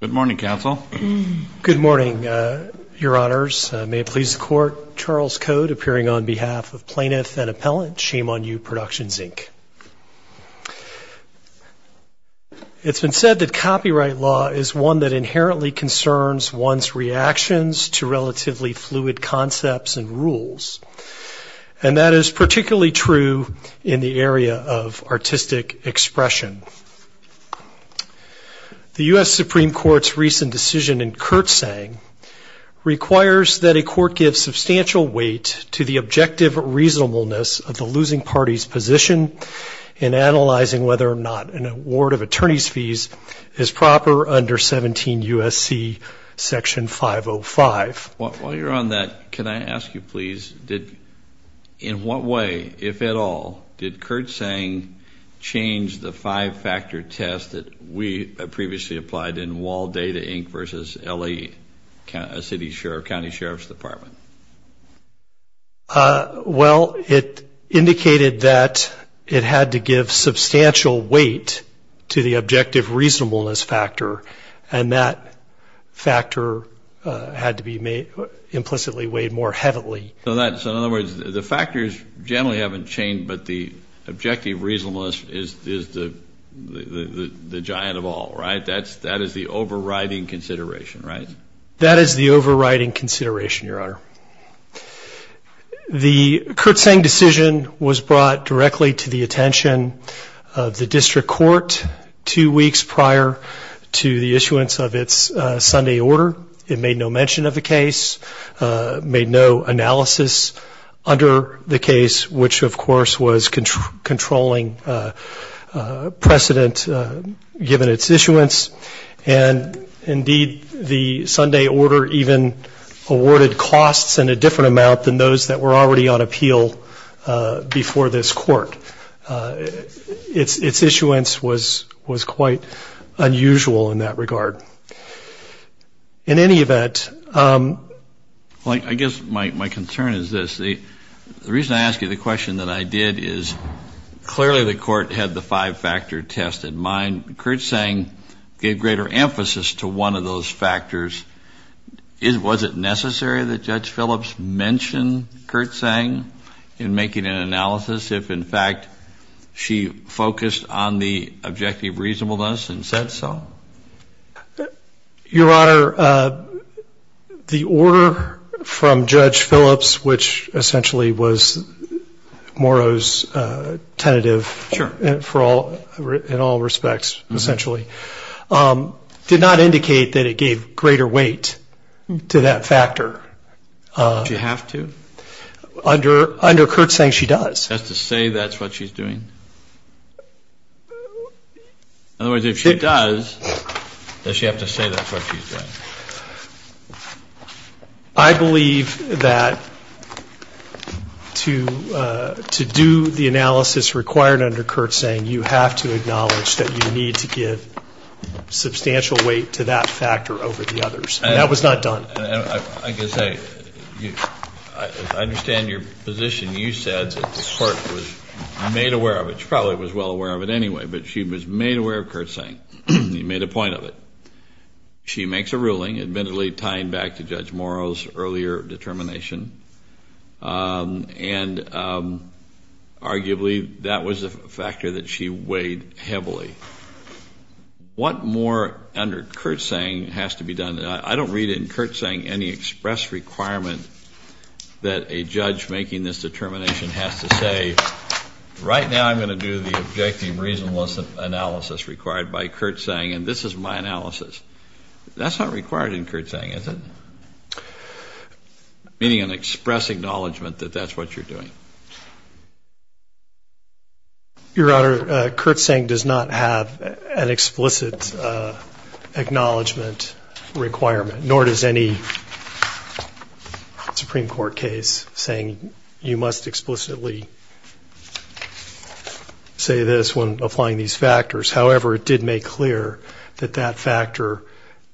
Good morning, Your Honors. May it please the Court, Charles Cote, appearing on behalf of Plaintiff and Appellant, Shame On You Productions, Inc. It's been said that copyright law is one that inherently concerns one's reactions to relatively fluid concepts and rules. And that is particularly true in the area of artistic expression. The U.S. Supreme Court's recent decision in Kurtzang requires that a court give substantial weight to the objective reasonableness of the losing party's position in analyzing whether or not an award of attorney's fees is proper under 17 U.S.C. Section 505. While you're on that, can I ask you please, in what way, if at all, did Kurtzang change the five-factor test that we previously applied in Wall Data, Inc. v. L.A. County Sheriff's Department? Well, it indicated that it had to give substantial weight to the objective reasonableness factor, and that factor had to be implicitly weighed more heavily. So in other words, the factors generally haven't changed, but the objective reasonableness is the giant of all, right? That is the overriding consideration, right? That is the overriding consideration, Your Honor. The Kurtzang decision was brought directly to the attention of the district court two weeks prior to the issuance of its Sunday order. It made no mention of the case, made no analysis under the case, which, of course, was controlling precedent given its issuance. And, indeed, the Sunday order even awarded costs in a different amount than those that were already on appeal before this court. Its issuance was quite unusual in that regard. In any event, I guess my concern is this. The reason I ask you the question that I did is clearly the court had the five-factor test in mind. Kurtzang gave greater emphasis to one of those factors. Was it necessary that Judge Phillips mention Kurtzang in making an analysis if, in fact, she focused on the objective reasonableness and said so? Your Honor, the order from Judge Phillips, which essentially was Morrow's tentative in all respects, essentially, did not indicate that it gave greater weight to that factor. Did she have to? Under Kurtzang, she does. Does she have to say that's what she's doing? In other words, if she does, does she have to say that's what she's doing? I believe that to do the analysis required under Kurtzang, you have to acknowledge that you need to give substantial weight to that factor over the others. And that was not done. I guess I understand your position. You said that the court was made aware of it. She probably was well aware of it anyway, but she was made aware of Kurtzang. You made a point of it. She makes a ruling, admittedly tying back to Judge Morrow's earlier determination, and arguably that was a factor that she weighed heavily. What more under Kurtzang has to be done? I don't read in Kurtzang any express requirement that a judge making this determination has to say right now I'm going to do the objective reasonableness analysis required by Kurtzang, and this is my analysis. That's not required in Kurtzang, is it? Meaning an express acknowledgment that that's what you're doing. Your Honor, Kurtzang does not have an explicit acknowledgment requirement, nor does any Supreme Court case saying you must explicitly say this when applying these factors. However, it did make clear that that factor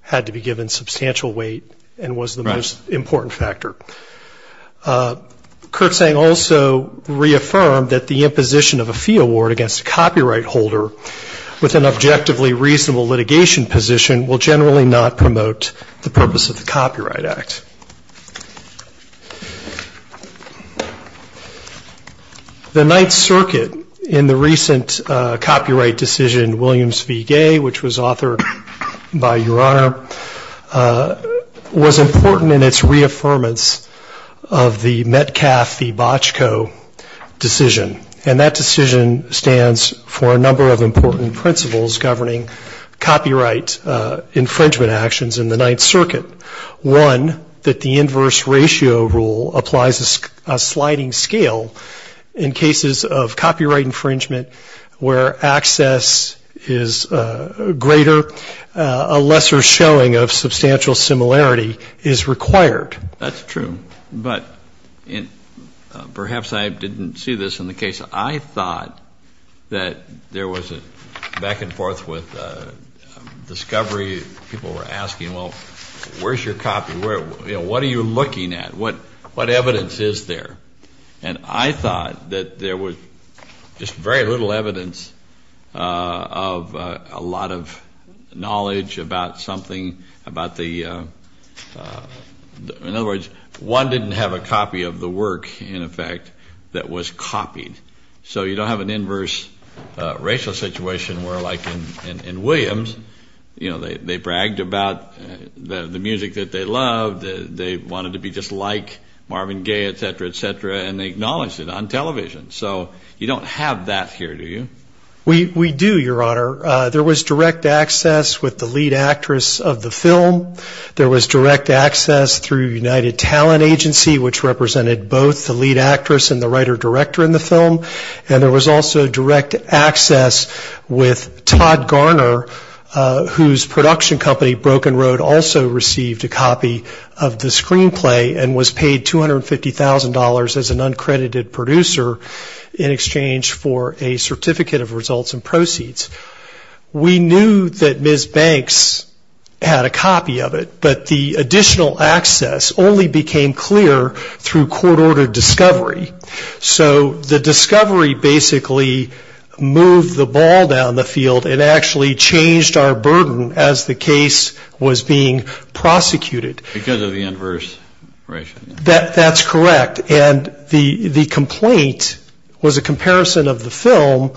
had to be given substantial weight and was the most important factor. Kurtzang also reaffirmed that the imposition of a fee award against a copyright holder with an objectively reasonable litigation position will generally not promote the purpose of the Copyright Act. The Ninth Circuit in the recent copyright decision, Williams v. Gay, which was authored by Your Honor, was important in its reaffirmance of the fact of the Metcalfe v. Bochco decision, and that decision stands for a number of important principles governing copyright infringement actions in the Ninth Circuit. One, that the inverse ratio rule applies a sliding scale in cases of copyright infringement where access is greater, a lesser showing of substantial similarity is required. That's true, but perhaps I didn't see this in the case. I thought that there was a back and forth with discovery. People were asking, well, where's your copy? What are you looking at? What evidence is there? And I thought that there was just very little evidence of a lot of knowledge about something, about the, in other words, one didn't have a copy of the work, in effect, that was copied. So you don't have an inverse ratio situation where like in Williams, you know, they bragged about the music that they loved, they wanted to be just like Marvin Gaye, et cetera, et cetera. And they acknowledged it on television. So you don't have that here, do you? We do, Your Honor. There was direct access with the lead actress of the film. There was direct access through United Talent Agency, which represented both the lead actress and the writer-director in the film. And there was also direct access with Todd Garner, whose production company, Broken Road, also received a copy of the screenplay and was paid $250,000 as an uncredited producer in exchange for a certificate of results and proceeds. We knew that Ms. Banks had a copy of it, but the additional access only became clear through court-ordered discovery. So the discovery basically moved the ball down the field and actually changed our burden as the case was being prosecuted. Because of the inverse ratio. That's correct. And the complaint was a comparison of the film,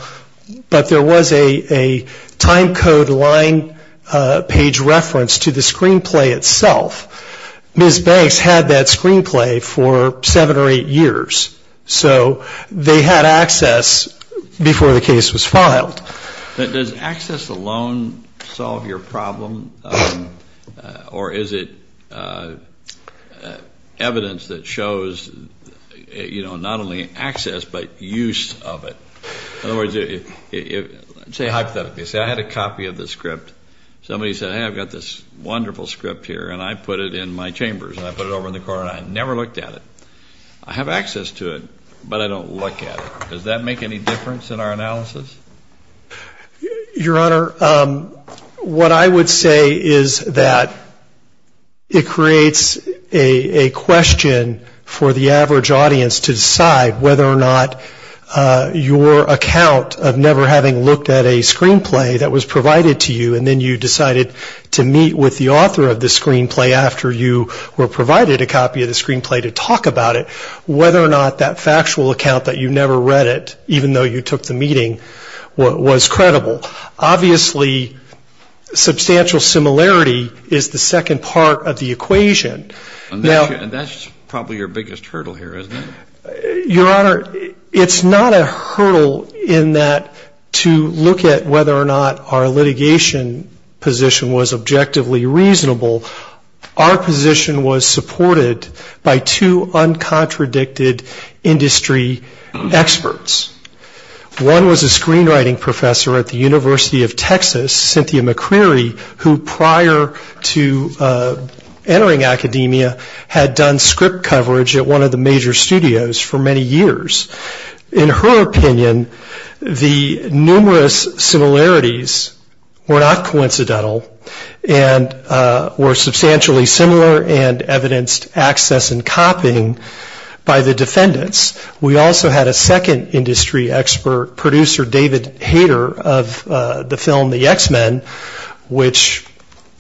but there was a time code line page reference to the screenplay itself. Ms. Banks had that screenplay for seven or eight years. So they had access before the case was filed. Does access alone solve your problem, or is it evidence that shows, you know, not only access, but use of it? In other words, say hypothetically, say I had a copy of the script. Somebody said, hey, I've got this wonderful script here, and I put it in my chambers, and I put it over in the corner, and I never looked at it. I have access to it, but I don't look at it. Does that make any difference in our analysis? Your Honor, what I would say is that it creates a question for the average audience to decide whether or not your account of never having looked at a screenplay that was provided to you in the first place. And then you decided to meet with the author of the screenplay after you were provided a copy of the screenplay to talk about it, whether or not that factual account that you never read it, even though you took the meeting, was credible. Obviously, substantial similarity is the second part of the equation. And that's probably your biggest hurdle here, isn't it? Your Honor, it's not a hurdle in that to look at whether or not our litigation position was objectively reasonable. Our position was supported by two uncontradicted industry experts. One was a screenwriting professor at the University of Texas, Cynthia McCreary, who prior to entering academia had done script coverage at one of the major studios for many years. In her opinion, the numerous similarities were not coincidental and were substantially similar and evidenced access and copying by the defendants. We also had a second industry expert, producer David Hader of the film The X-Men, which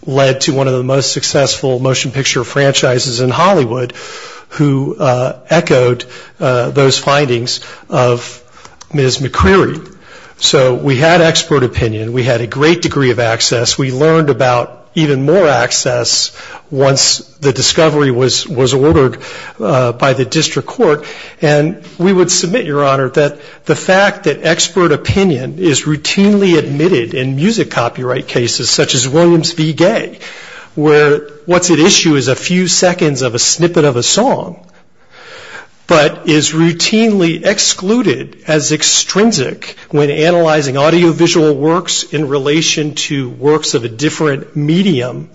led to one of the most successful motion picture franchises in Hollywood, who echoed the findings of Ms. McCreary. So we had expert opinion. We had a great degree of access. We learned about even more access once the discovery was ordered by the district court. And we would submit, Your Honor, that the fact that expert opinion is routinely admitted in music copyright cases, such as Williams v. Gay, where what's at issue is a few seconds of a snippet of a song. But is routinely excluded as extrinsic when analyzing audiovisual works in relation to works of a different medium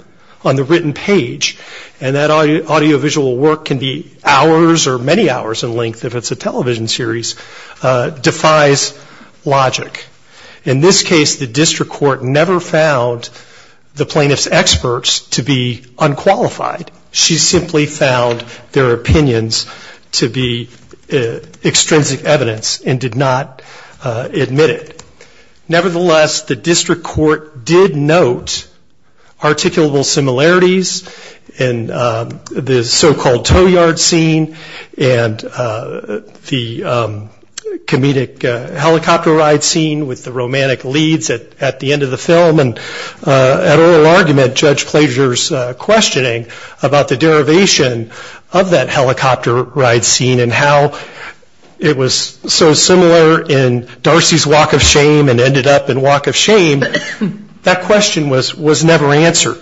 on the written page. And that audiovisual work can be hours or many hours in length if it's a television series, defies logic. In this case, the district court never found the plaintiff's experts to be unqualified. She simply found their opinions to be extrinsic evidence and did not admit it. Nevertheless, the district court did note articulable similarities in the so-called tow yard scene and the comedic helicopter ride scene with the romantic leads at the end of the film. And at oral argument, Judge Plager's questioning about the derivation of that helicopter ride scene and how it was so similar in Darcy's walk of shame and ended up in walk of shame, that question was never answered.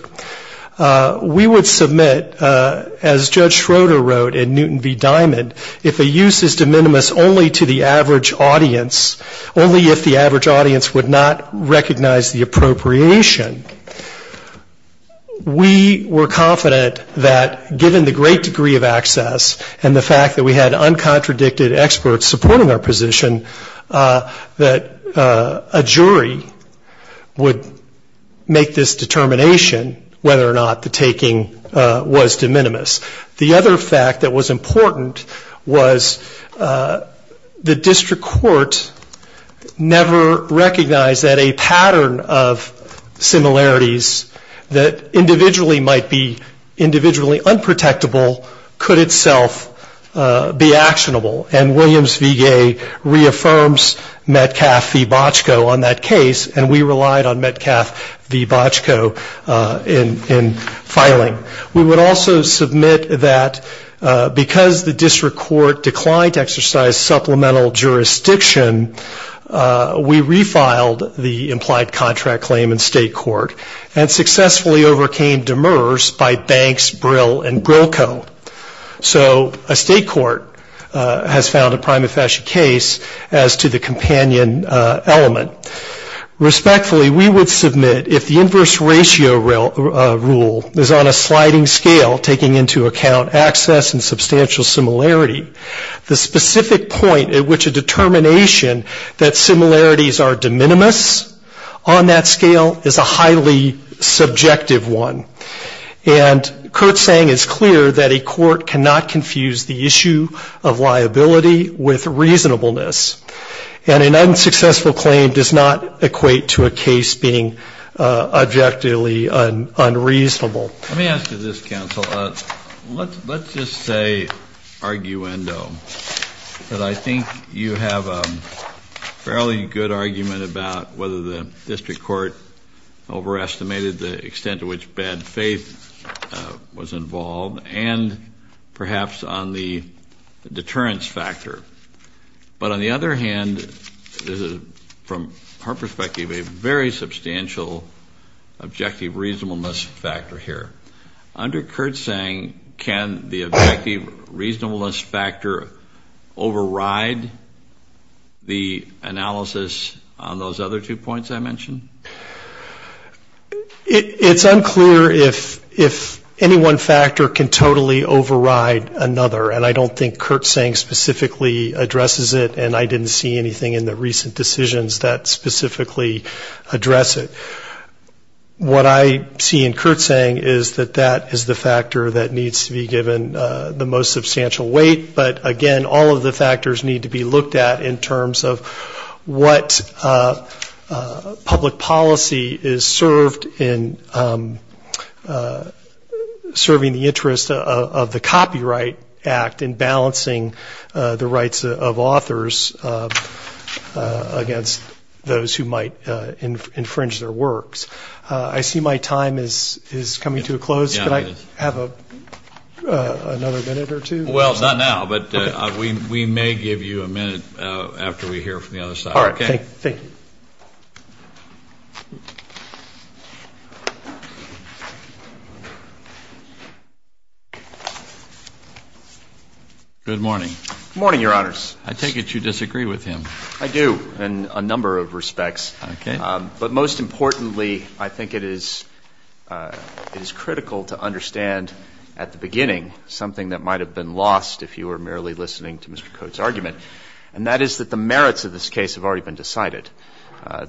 We would submit, as Judge Schroeder wrote in Newton v. Diamond, if a use is de minimis only to the average audience, only if the average audience would not recognize the appropriateness of the use. And in this case, we were confident that given the great degree of access and the fact that we had uncontradicted experts supporting our position, that a jury would make this determination whether or not the taking was de minimis. The other fact that was important was the district court never recognized that a pattern of appropriateness to the average audience was de minimis. And we would also submit that because the district court declined to exercise supplemental jurisdiction, we refiled the implied contract claim instead. And we would also submit that because the district court declined to exercise supplemental jurisdiction, we refiled the implied contract claim instead. This is a highly subjective one. And Coate's saying is clear, that a court cannot confuse the issue of liability with reasonableness and an unsuccessful claim does not equate to a case being objectively unreasonable. Let me ask you this counsel, let's just say, arguendo, that I think you have a fairly good argument about whether the district court can be a reasonable judge overestimated the extent to which bad faith was involved and perhaps on the deterrence factor. But on the other hand, from her perspective, a very substantial objective reasonableness factor here. Under Coate's saying, can the objective reasonableness factor override the analysis on those other two points I mentioned? It's unclear if any one factor can totally override another. And I don't think Coate's saying specifically addresses it and I didn't see anything in the recent decisions that specifically address it. What I see in Coate's saying is that that is the factor that needs to be given the most substantial weight. But again, all of the factors need to be looked at in terms of what public policy is supposed to be. And I don't think Coate's saying that the district court has served in serving the interest of the Copyright Act in balancing the rights of authors against those who might infringe their works. I see my time is coming to a close. Can I have another minute or two? Well, not now, but we may give you a minute after we hear from the other side. All right, thank you. Good morning. I take it you disagree with him. I do, in a number of respects. But most importantly, I think it is critical to understand at the beginning something that might have been lost if you were merely listening to Mr. Coate's argument, and that is that the merits of this case have already been decided.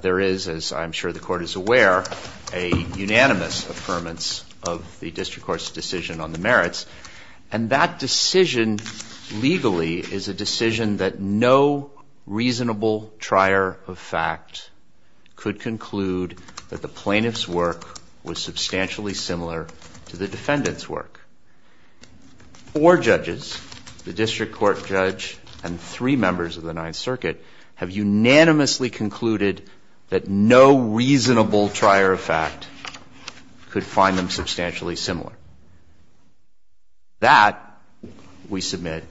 There is, as I'm sure the Court is aware, a unanimous affirmance of the district court's decision on the merits. And that decision, legally, is a decision that no reasonable trier of fact has ever made. No trier of fact could conclude that the plaintiff's work was substantially similar to the defendant's work. Four judges, the district court judge and three members of the Ninth Circuit, have unanimously concluded that no reasonable trier of fact could find them substantially similar. That, we submit,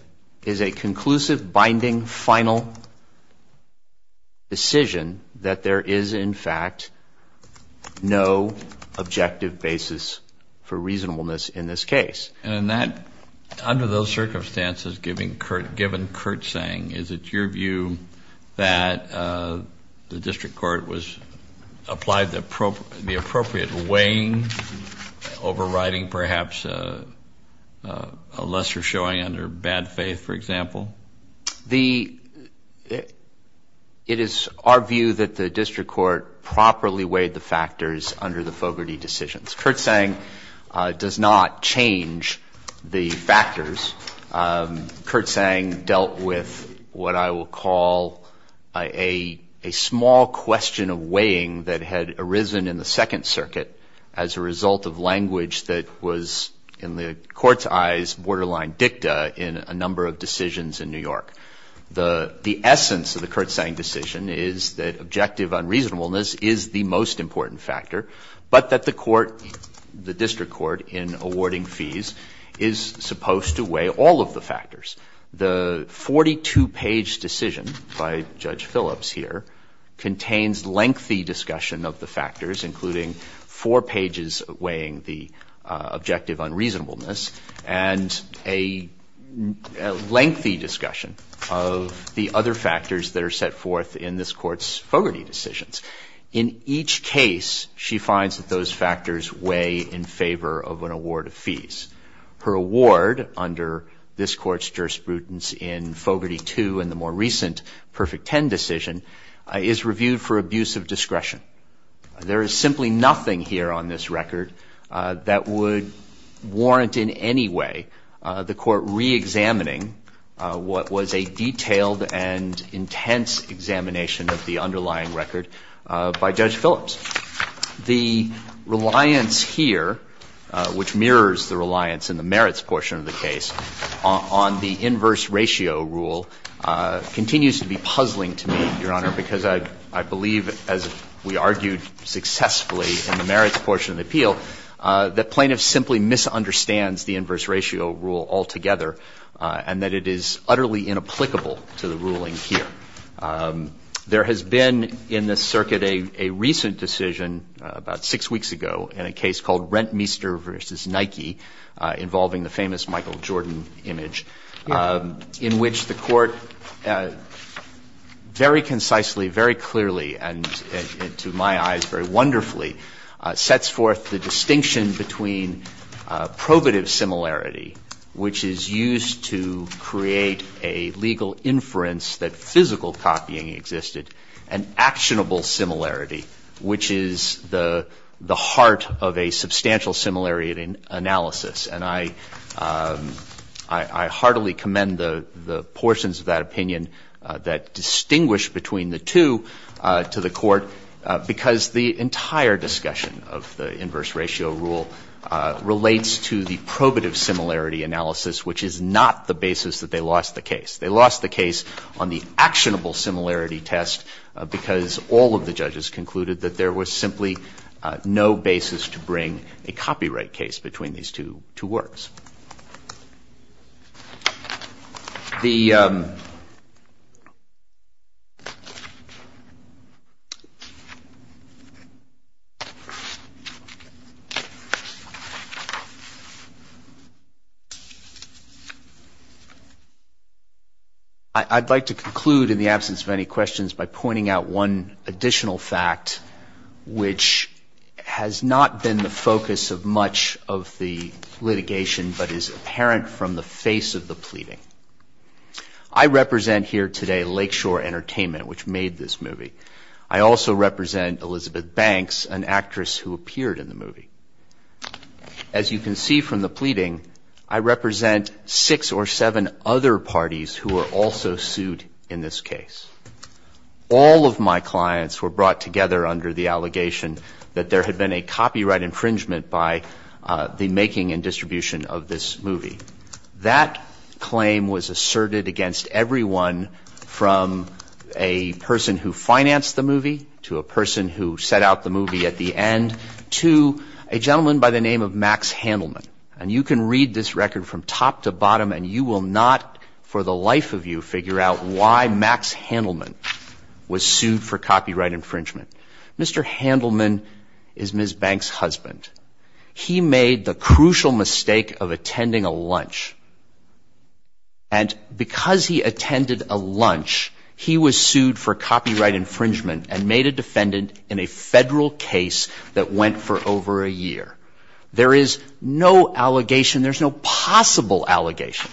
is a conclusive, binding, final decision that there is no reasonable trier of fact. There is, in fact, no objective basis for reasonableness in this case. And that, under those circumstances, given Curt's saying, is it your view that the district court was applied the appropriate weighing, overriding perhaps a lesser showing under bad faith, for example? The, it is our view that the district court properly weighed the factors under the Fogarty decisions. Curt's saying does not change the factors. Curt's saying dealt with what I will call a small question of weighing that had arisen in the Second Circuit as a result of language that was, in the Court's eyes, borderline dicta in a number of decisions in the Ninth Circuit. And that, in fact, is not the case in New York. The essence of the Curt's saying decision is that objective unreasonableness is the most important factor, but that the court, the district court, in awarding fees is supposed to weigh all of the factors. The 42-page decision by Judge Phillips here contains lengthy discussion of the factors, including four pages weighing the objective unreasonableness, and a lengthy discussion of the other factors that are set forth in this Court's Fogarty decisions. In each case, she finds that those factors weigh in favor of an award of fees. Her award, under this Court's jurisprudence in Fogarty 2 and the more recent Perfect 10 decision, is reviewed for abuse of discretion. There is simply nothing here on this record that would warrant in any way the Court reexamining what was the objective unreasonableness. It was a detailed and intense examination of the underlying record by Judge Phillips. The reliance here, which mirrors the reliance in the merits portion of the case, on the inverse ratio rule, continues to be puzzling to me, Your Honor, because I believe, as we argued successfully in the merits portion of the appeal, that plaintiff simply misunderstands the inverse ratio rule altogether, and that it is utterly inapplicable to the ruling here. There has been, in this circuit, a recent decision, about six weeks ago, in a case called Rentmeester v. Nike, involving the famous Michael Jordan image, in which the Court, very concisely, very clearly, and to my eyes, very wonderfully, sets forth the distinction between probative similarity, which is used to create a kind of a legal inference that physical copying existed, and actionable similarity, which is the heart of a substantial similarity analysis. And I heartily commend the portions of that opinion that distinguish between the two to the Court, because the entire discussion of the inverse ratio rule relates to the probative similarity analysis, which is not the basis that they lost the case. They lost the case on the actionable similarity test because all of the judges concluded that there was simply no basis to bring a copyright case between these two works. The case is now closed. I'd like to conclude, in the absence of any questions, by pointing out one additional fact, which has not been the focus of much of the litigation, but is apparent from the face of the pleading. I represent here today Lakeshore Entertainment, which made this movie. I also represent Elizabeth Banks, an actress who appeared in the movie. As you can see from the pleading, I represent six or seven other parties who were also sued in this case. All of my clients were brought together under the allegation that there had been a copyright infringement by the making and distribution of this movie. That claim was asserted against everyone from a person who financed the movie to a person who set out the movie at the end, to a person who financed the movie. A gentleman by the name of Max Handelman, and you can read this record from top to bottom, and you will not, for the life of you, figure out why Max Handelman was sued for copyright infringement. Mr. Handelman is Ms. Banks' husband. He made the crucial mistake of attending a lunch. And because he attended a lunch, he was sued for copyright infringement and made a defendant in a federal case that went for over a year. There is no allegation, there's no possible allegation,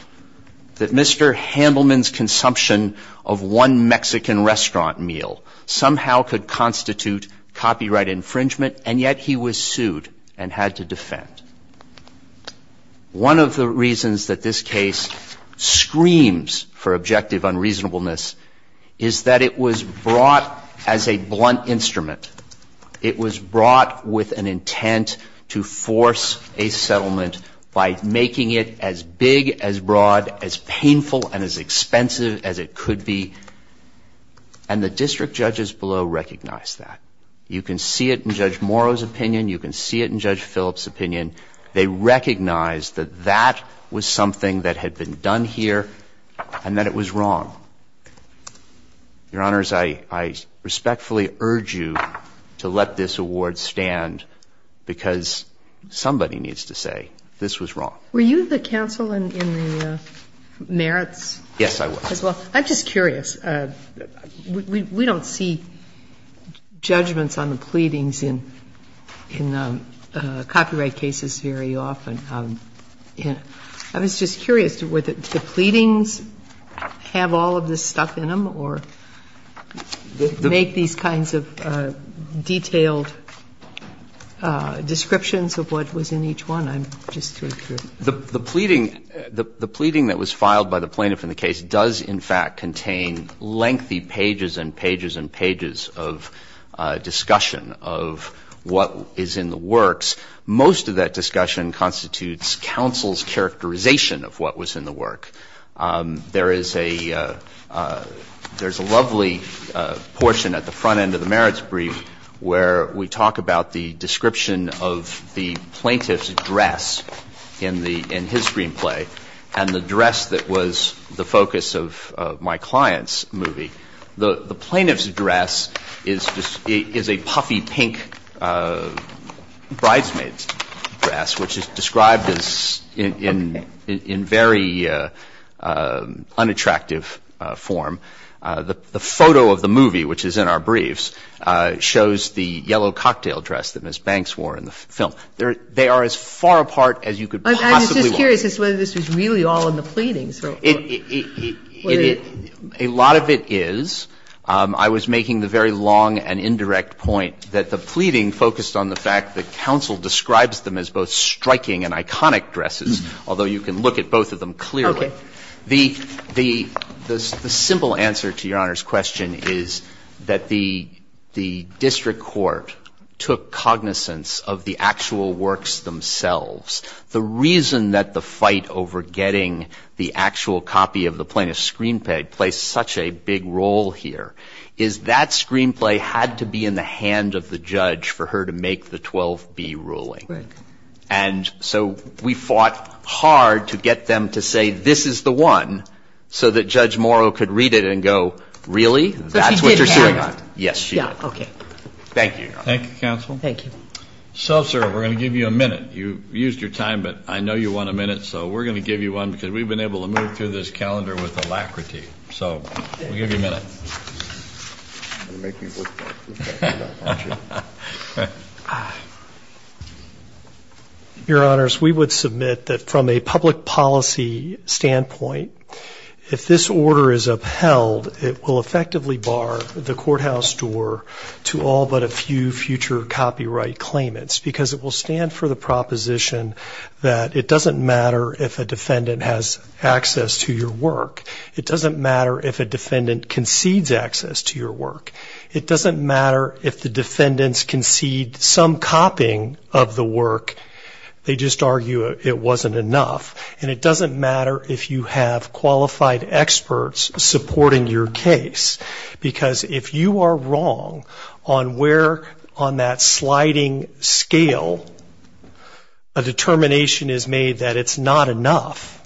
that Mr. Handelman's consumption of one Mexican restaurant meal somehow could constitute copyright infringement, and yet he was sued and had to defend. One of the reasons that this case screams for objective unreasonableness is that it was brought as a blunt instrument. It was brought with an intent to force a settlement by making it as big, as broad, as painful, and as expensive as it could be. And the district judges below recognized that. You can see it in Judge Morrow's opinion, you can see it in Judge Phillips' opinion. They recognized that that was something that had been done here and that it was wrong. Your Honors, I respectfully urge you to let this award stand because somebody needs to say this was wrong. Were you the counsel in the merits as well? Well, I'm just curious. We don't see judgments on the pleadings in copyright cases very often. I was just curious, do the pleadings have all of this stuff in them or make these kinds of detailed descriptions of what was in each one? I'm just sort of curious. The pleading that was filed by the plaintiff in the case does, in fact, contain lengthy pages and pages and pages of discussion of what is in the works. Most of that discussion constitutes counsel's characterization of what was in the work. There is a lovely portion at the front end of the merits brief where we talk about the description of the plaintiff's dress in his screenplay and the dress that was the focus of my client's movie. The plaintiff's dress is a puffy pink bridesmaid's dress, which is described in very unattractive form. The photo of the movie, which is in our briefs, shows the yellow cocktail dress that Ms. Banks wore in the film. They are as far apart as you could possibly want. I'm just curious as to whether this was really all in the pleadings. A lot of it is. I was making the very long and indirect point that the pleading focused on the fact that counsel describes them as both striking and iconic dresses, although you can look at both of them clearly. The simple answer to Your Honor's question is that the district court took cognizance of the actual works themselves. The reason that the fight over getting the actual copy of the plaintiff's screenplay plays such a big role here is that screenplay had to be in the hand of the judge for her to make the 12B ruling. Right. And so we fought hard to get them to say, this is the one, so that Judge Morrow could read it and go, really? That's what you're suing on? Yes, she did. Okay. Thank you, Your Honor. Thank you, counsel. Thank you. So, sir, we're going to give you a minute. You used your time, but I know you want a minute, so we're going to give you one because we've been able to move through this calendar with alacrity. So we'll give you a minute. You're making it look like we've got your back, aren't you? Your Honors, we would submit that from a public policy standpoint, if this order is upheld, it will effectively bar the courthouse door to all but a few future copyright claimants because it will stand for the proposition that it doesn't matter if a defendant has access to your work. It doesn't matter if a defendant concedes access to your work. It doesn't matter if the defendants concede some copying of the work. They just argue it wasn't enough. And it doesn't matter if you have qualified experts supporting your case because if you are wrong on where on that sliding scale, a determination is made that it's not enough,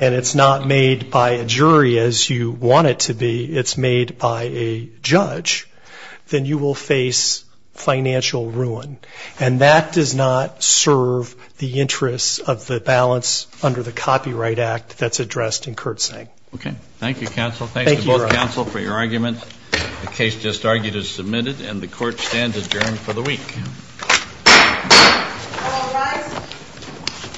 and it's not made by a jury as you want it to be, it's made by a judge, then you will face financial ruin. And that does not serve the interests of the balance under the Copyright Act that's addressed in Kurtzing. Okay. Thank you, counsel. Thanks to both counsel for your arguments. The case just argued is submitted, and the court stands adjourned for the week. Thank you.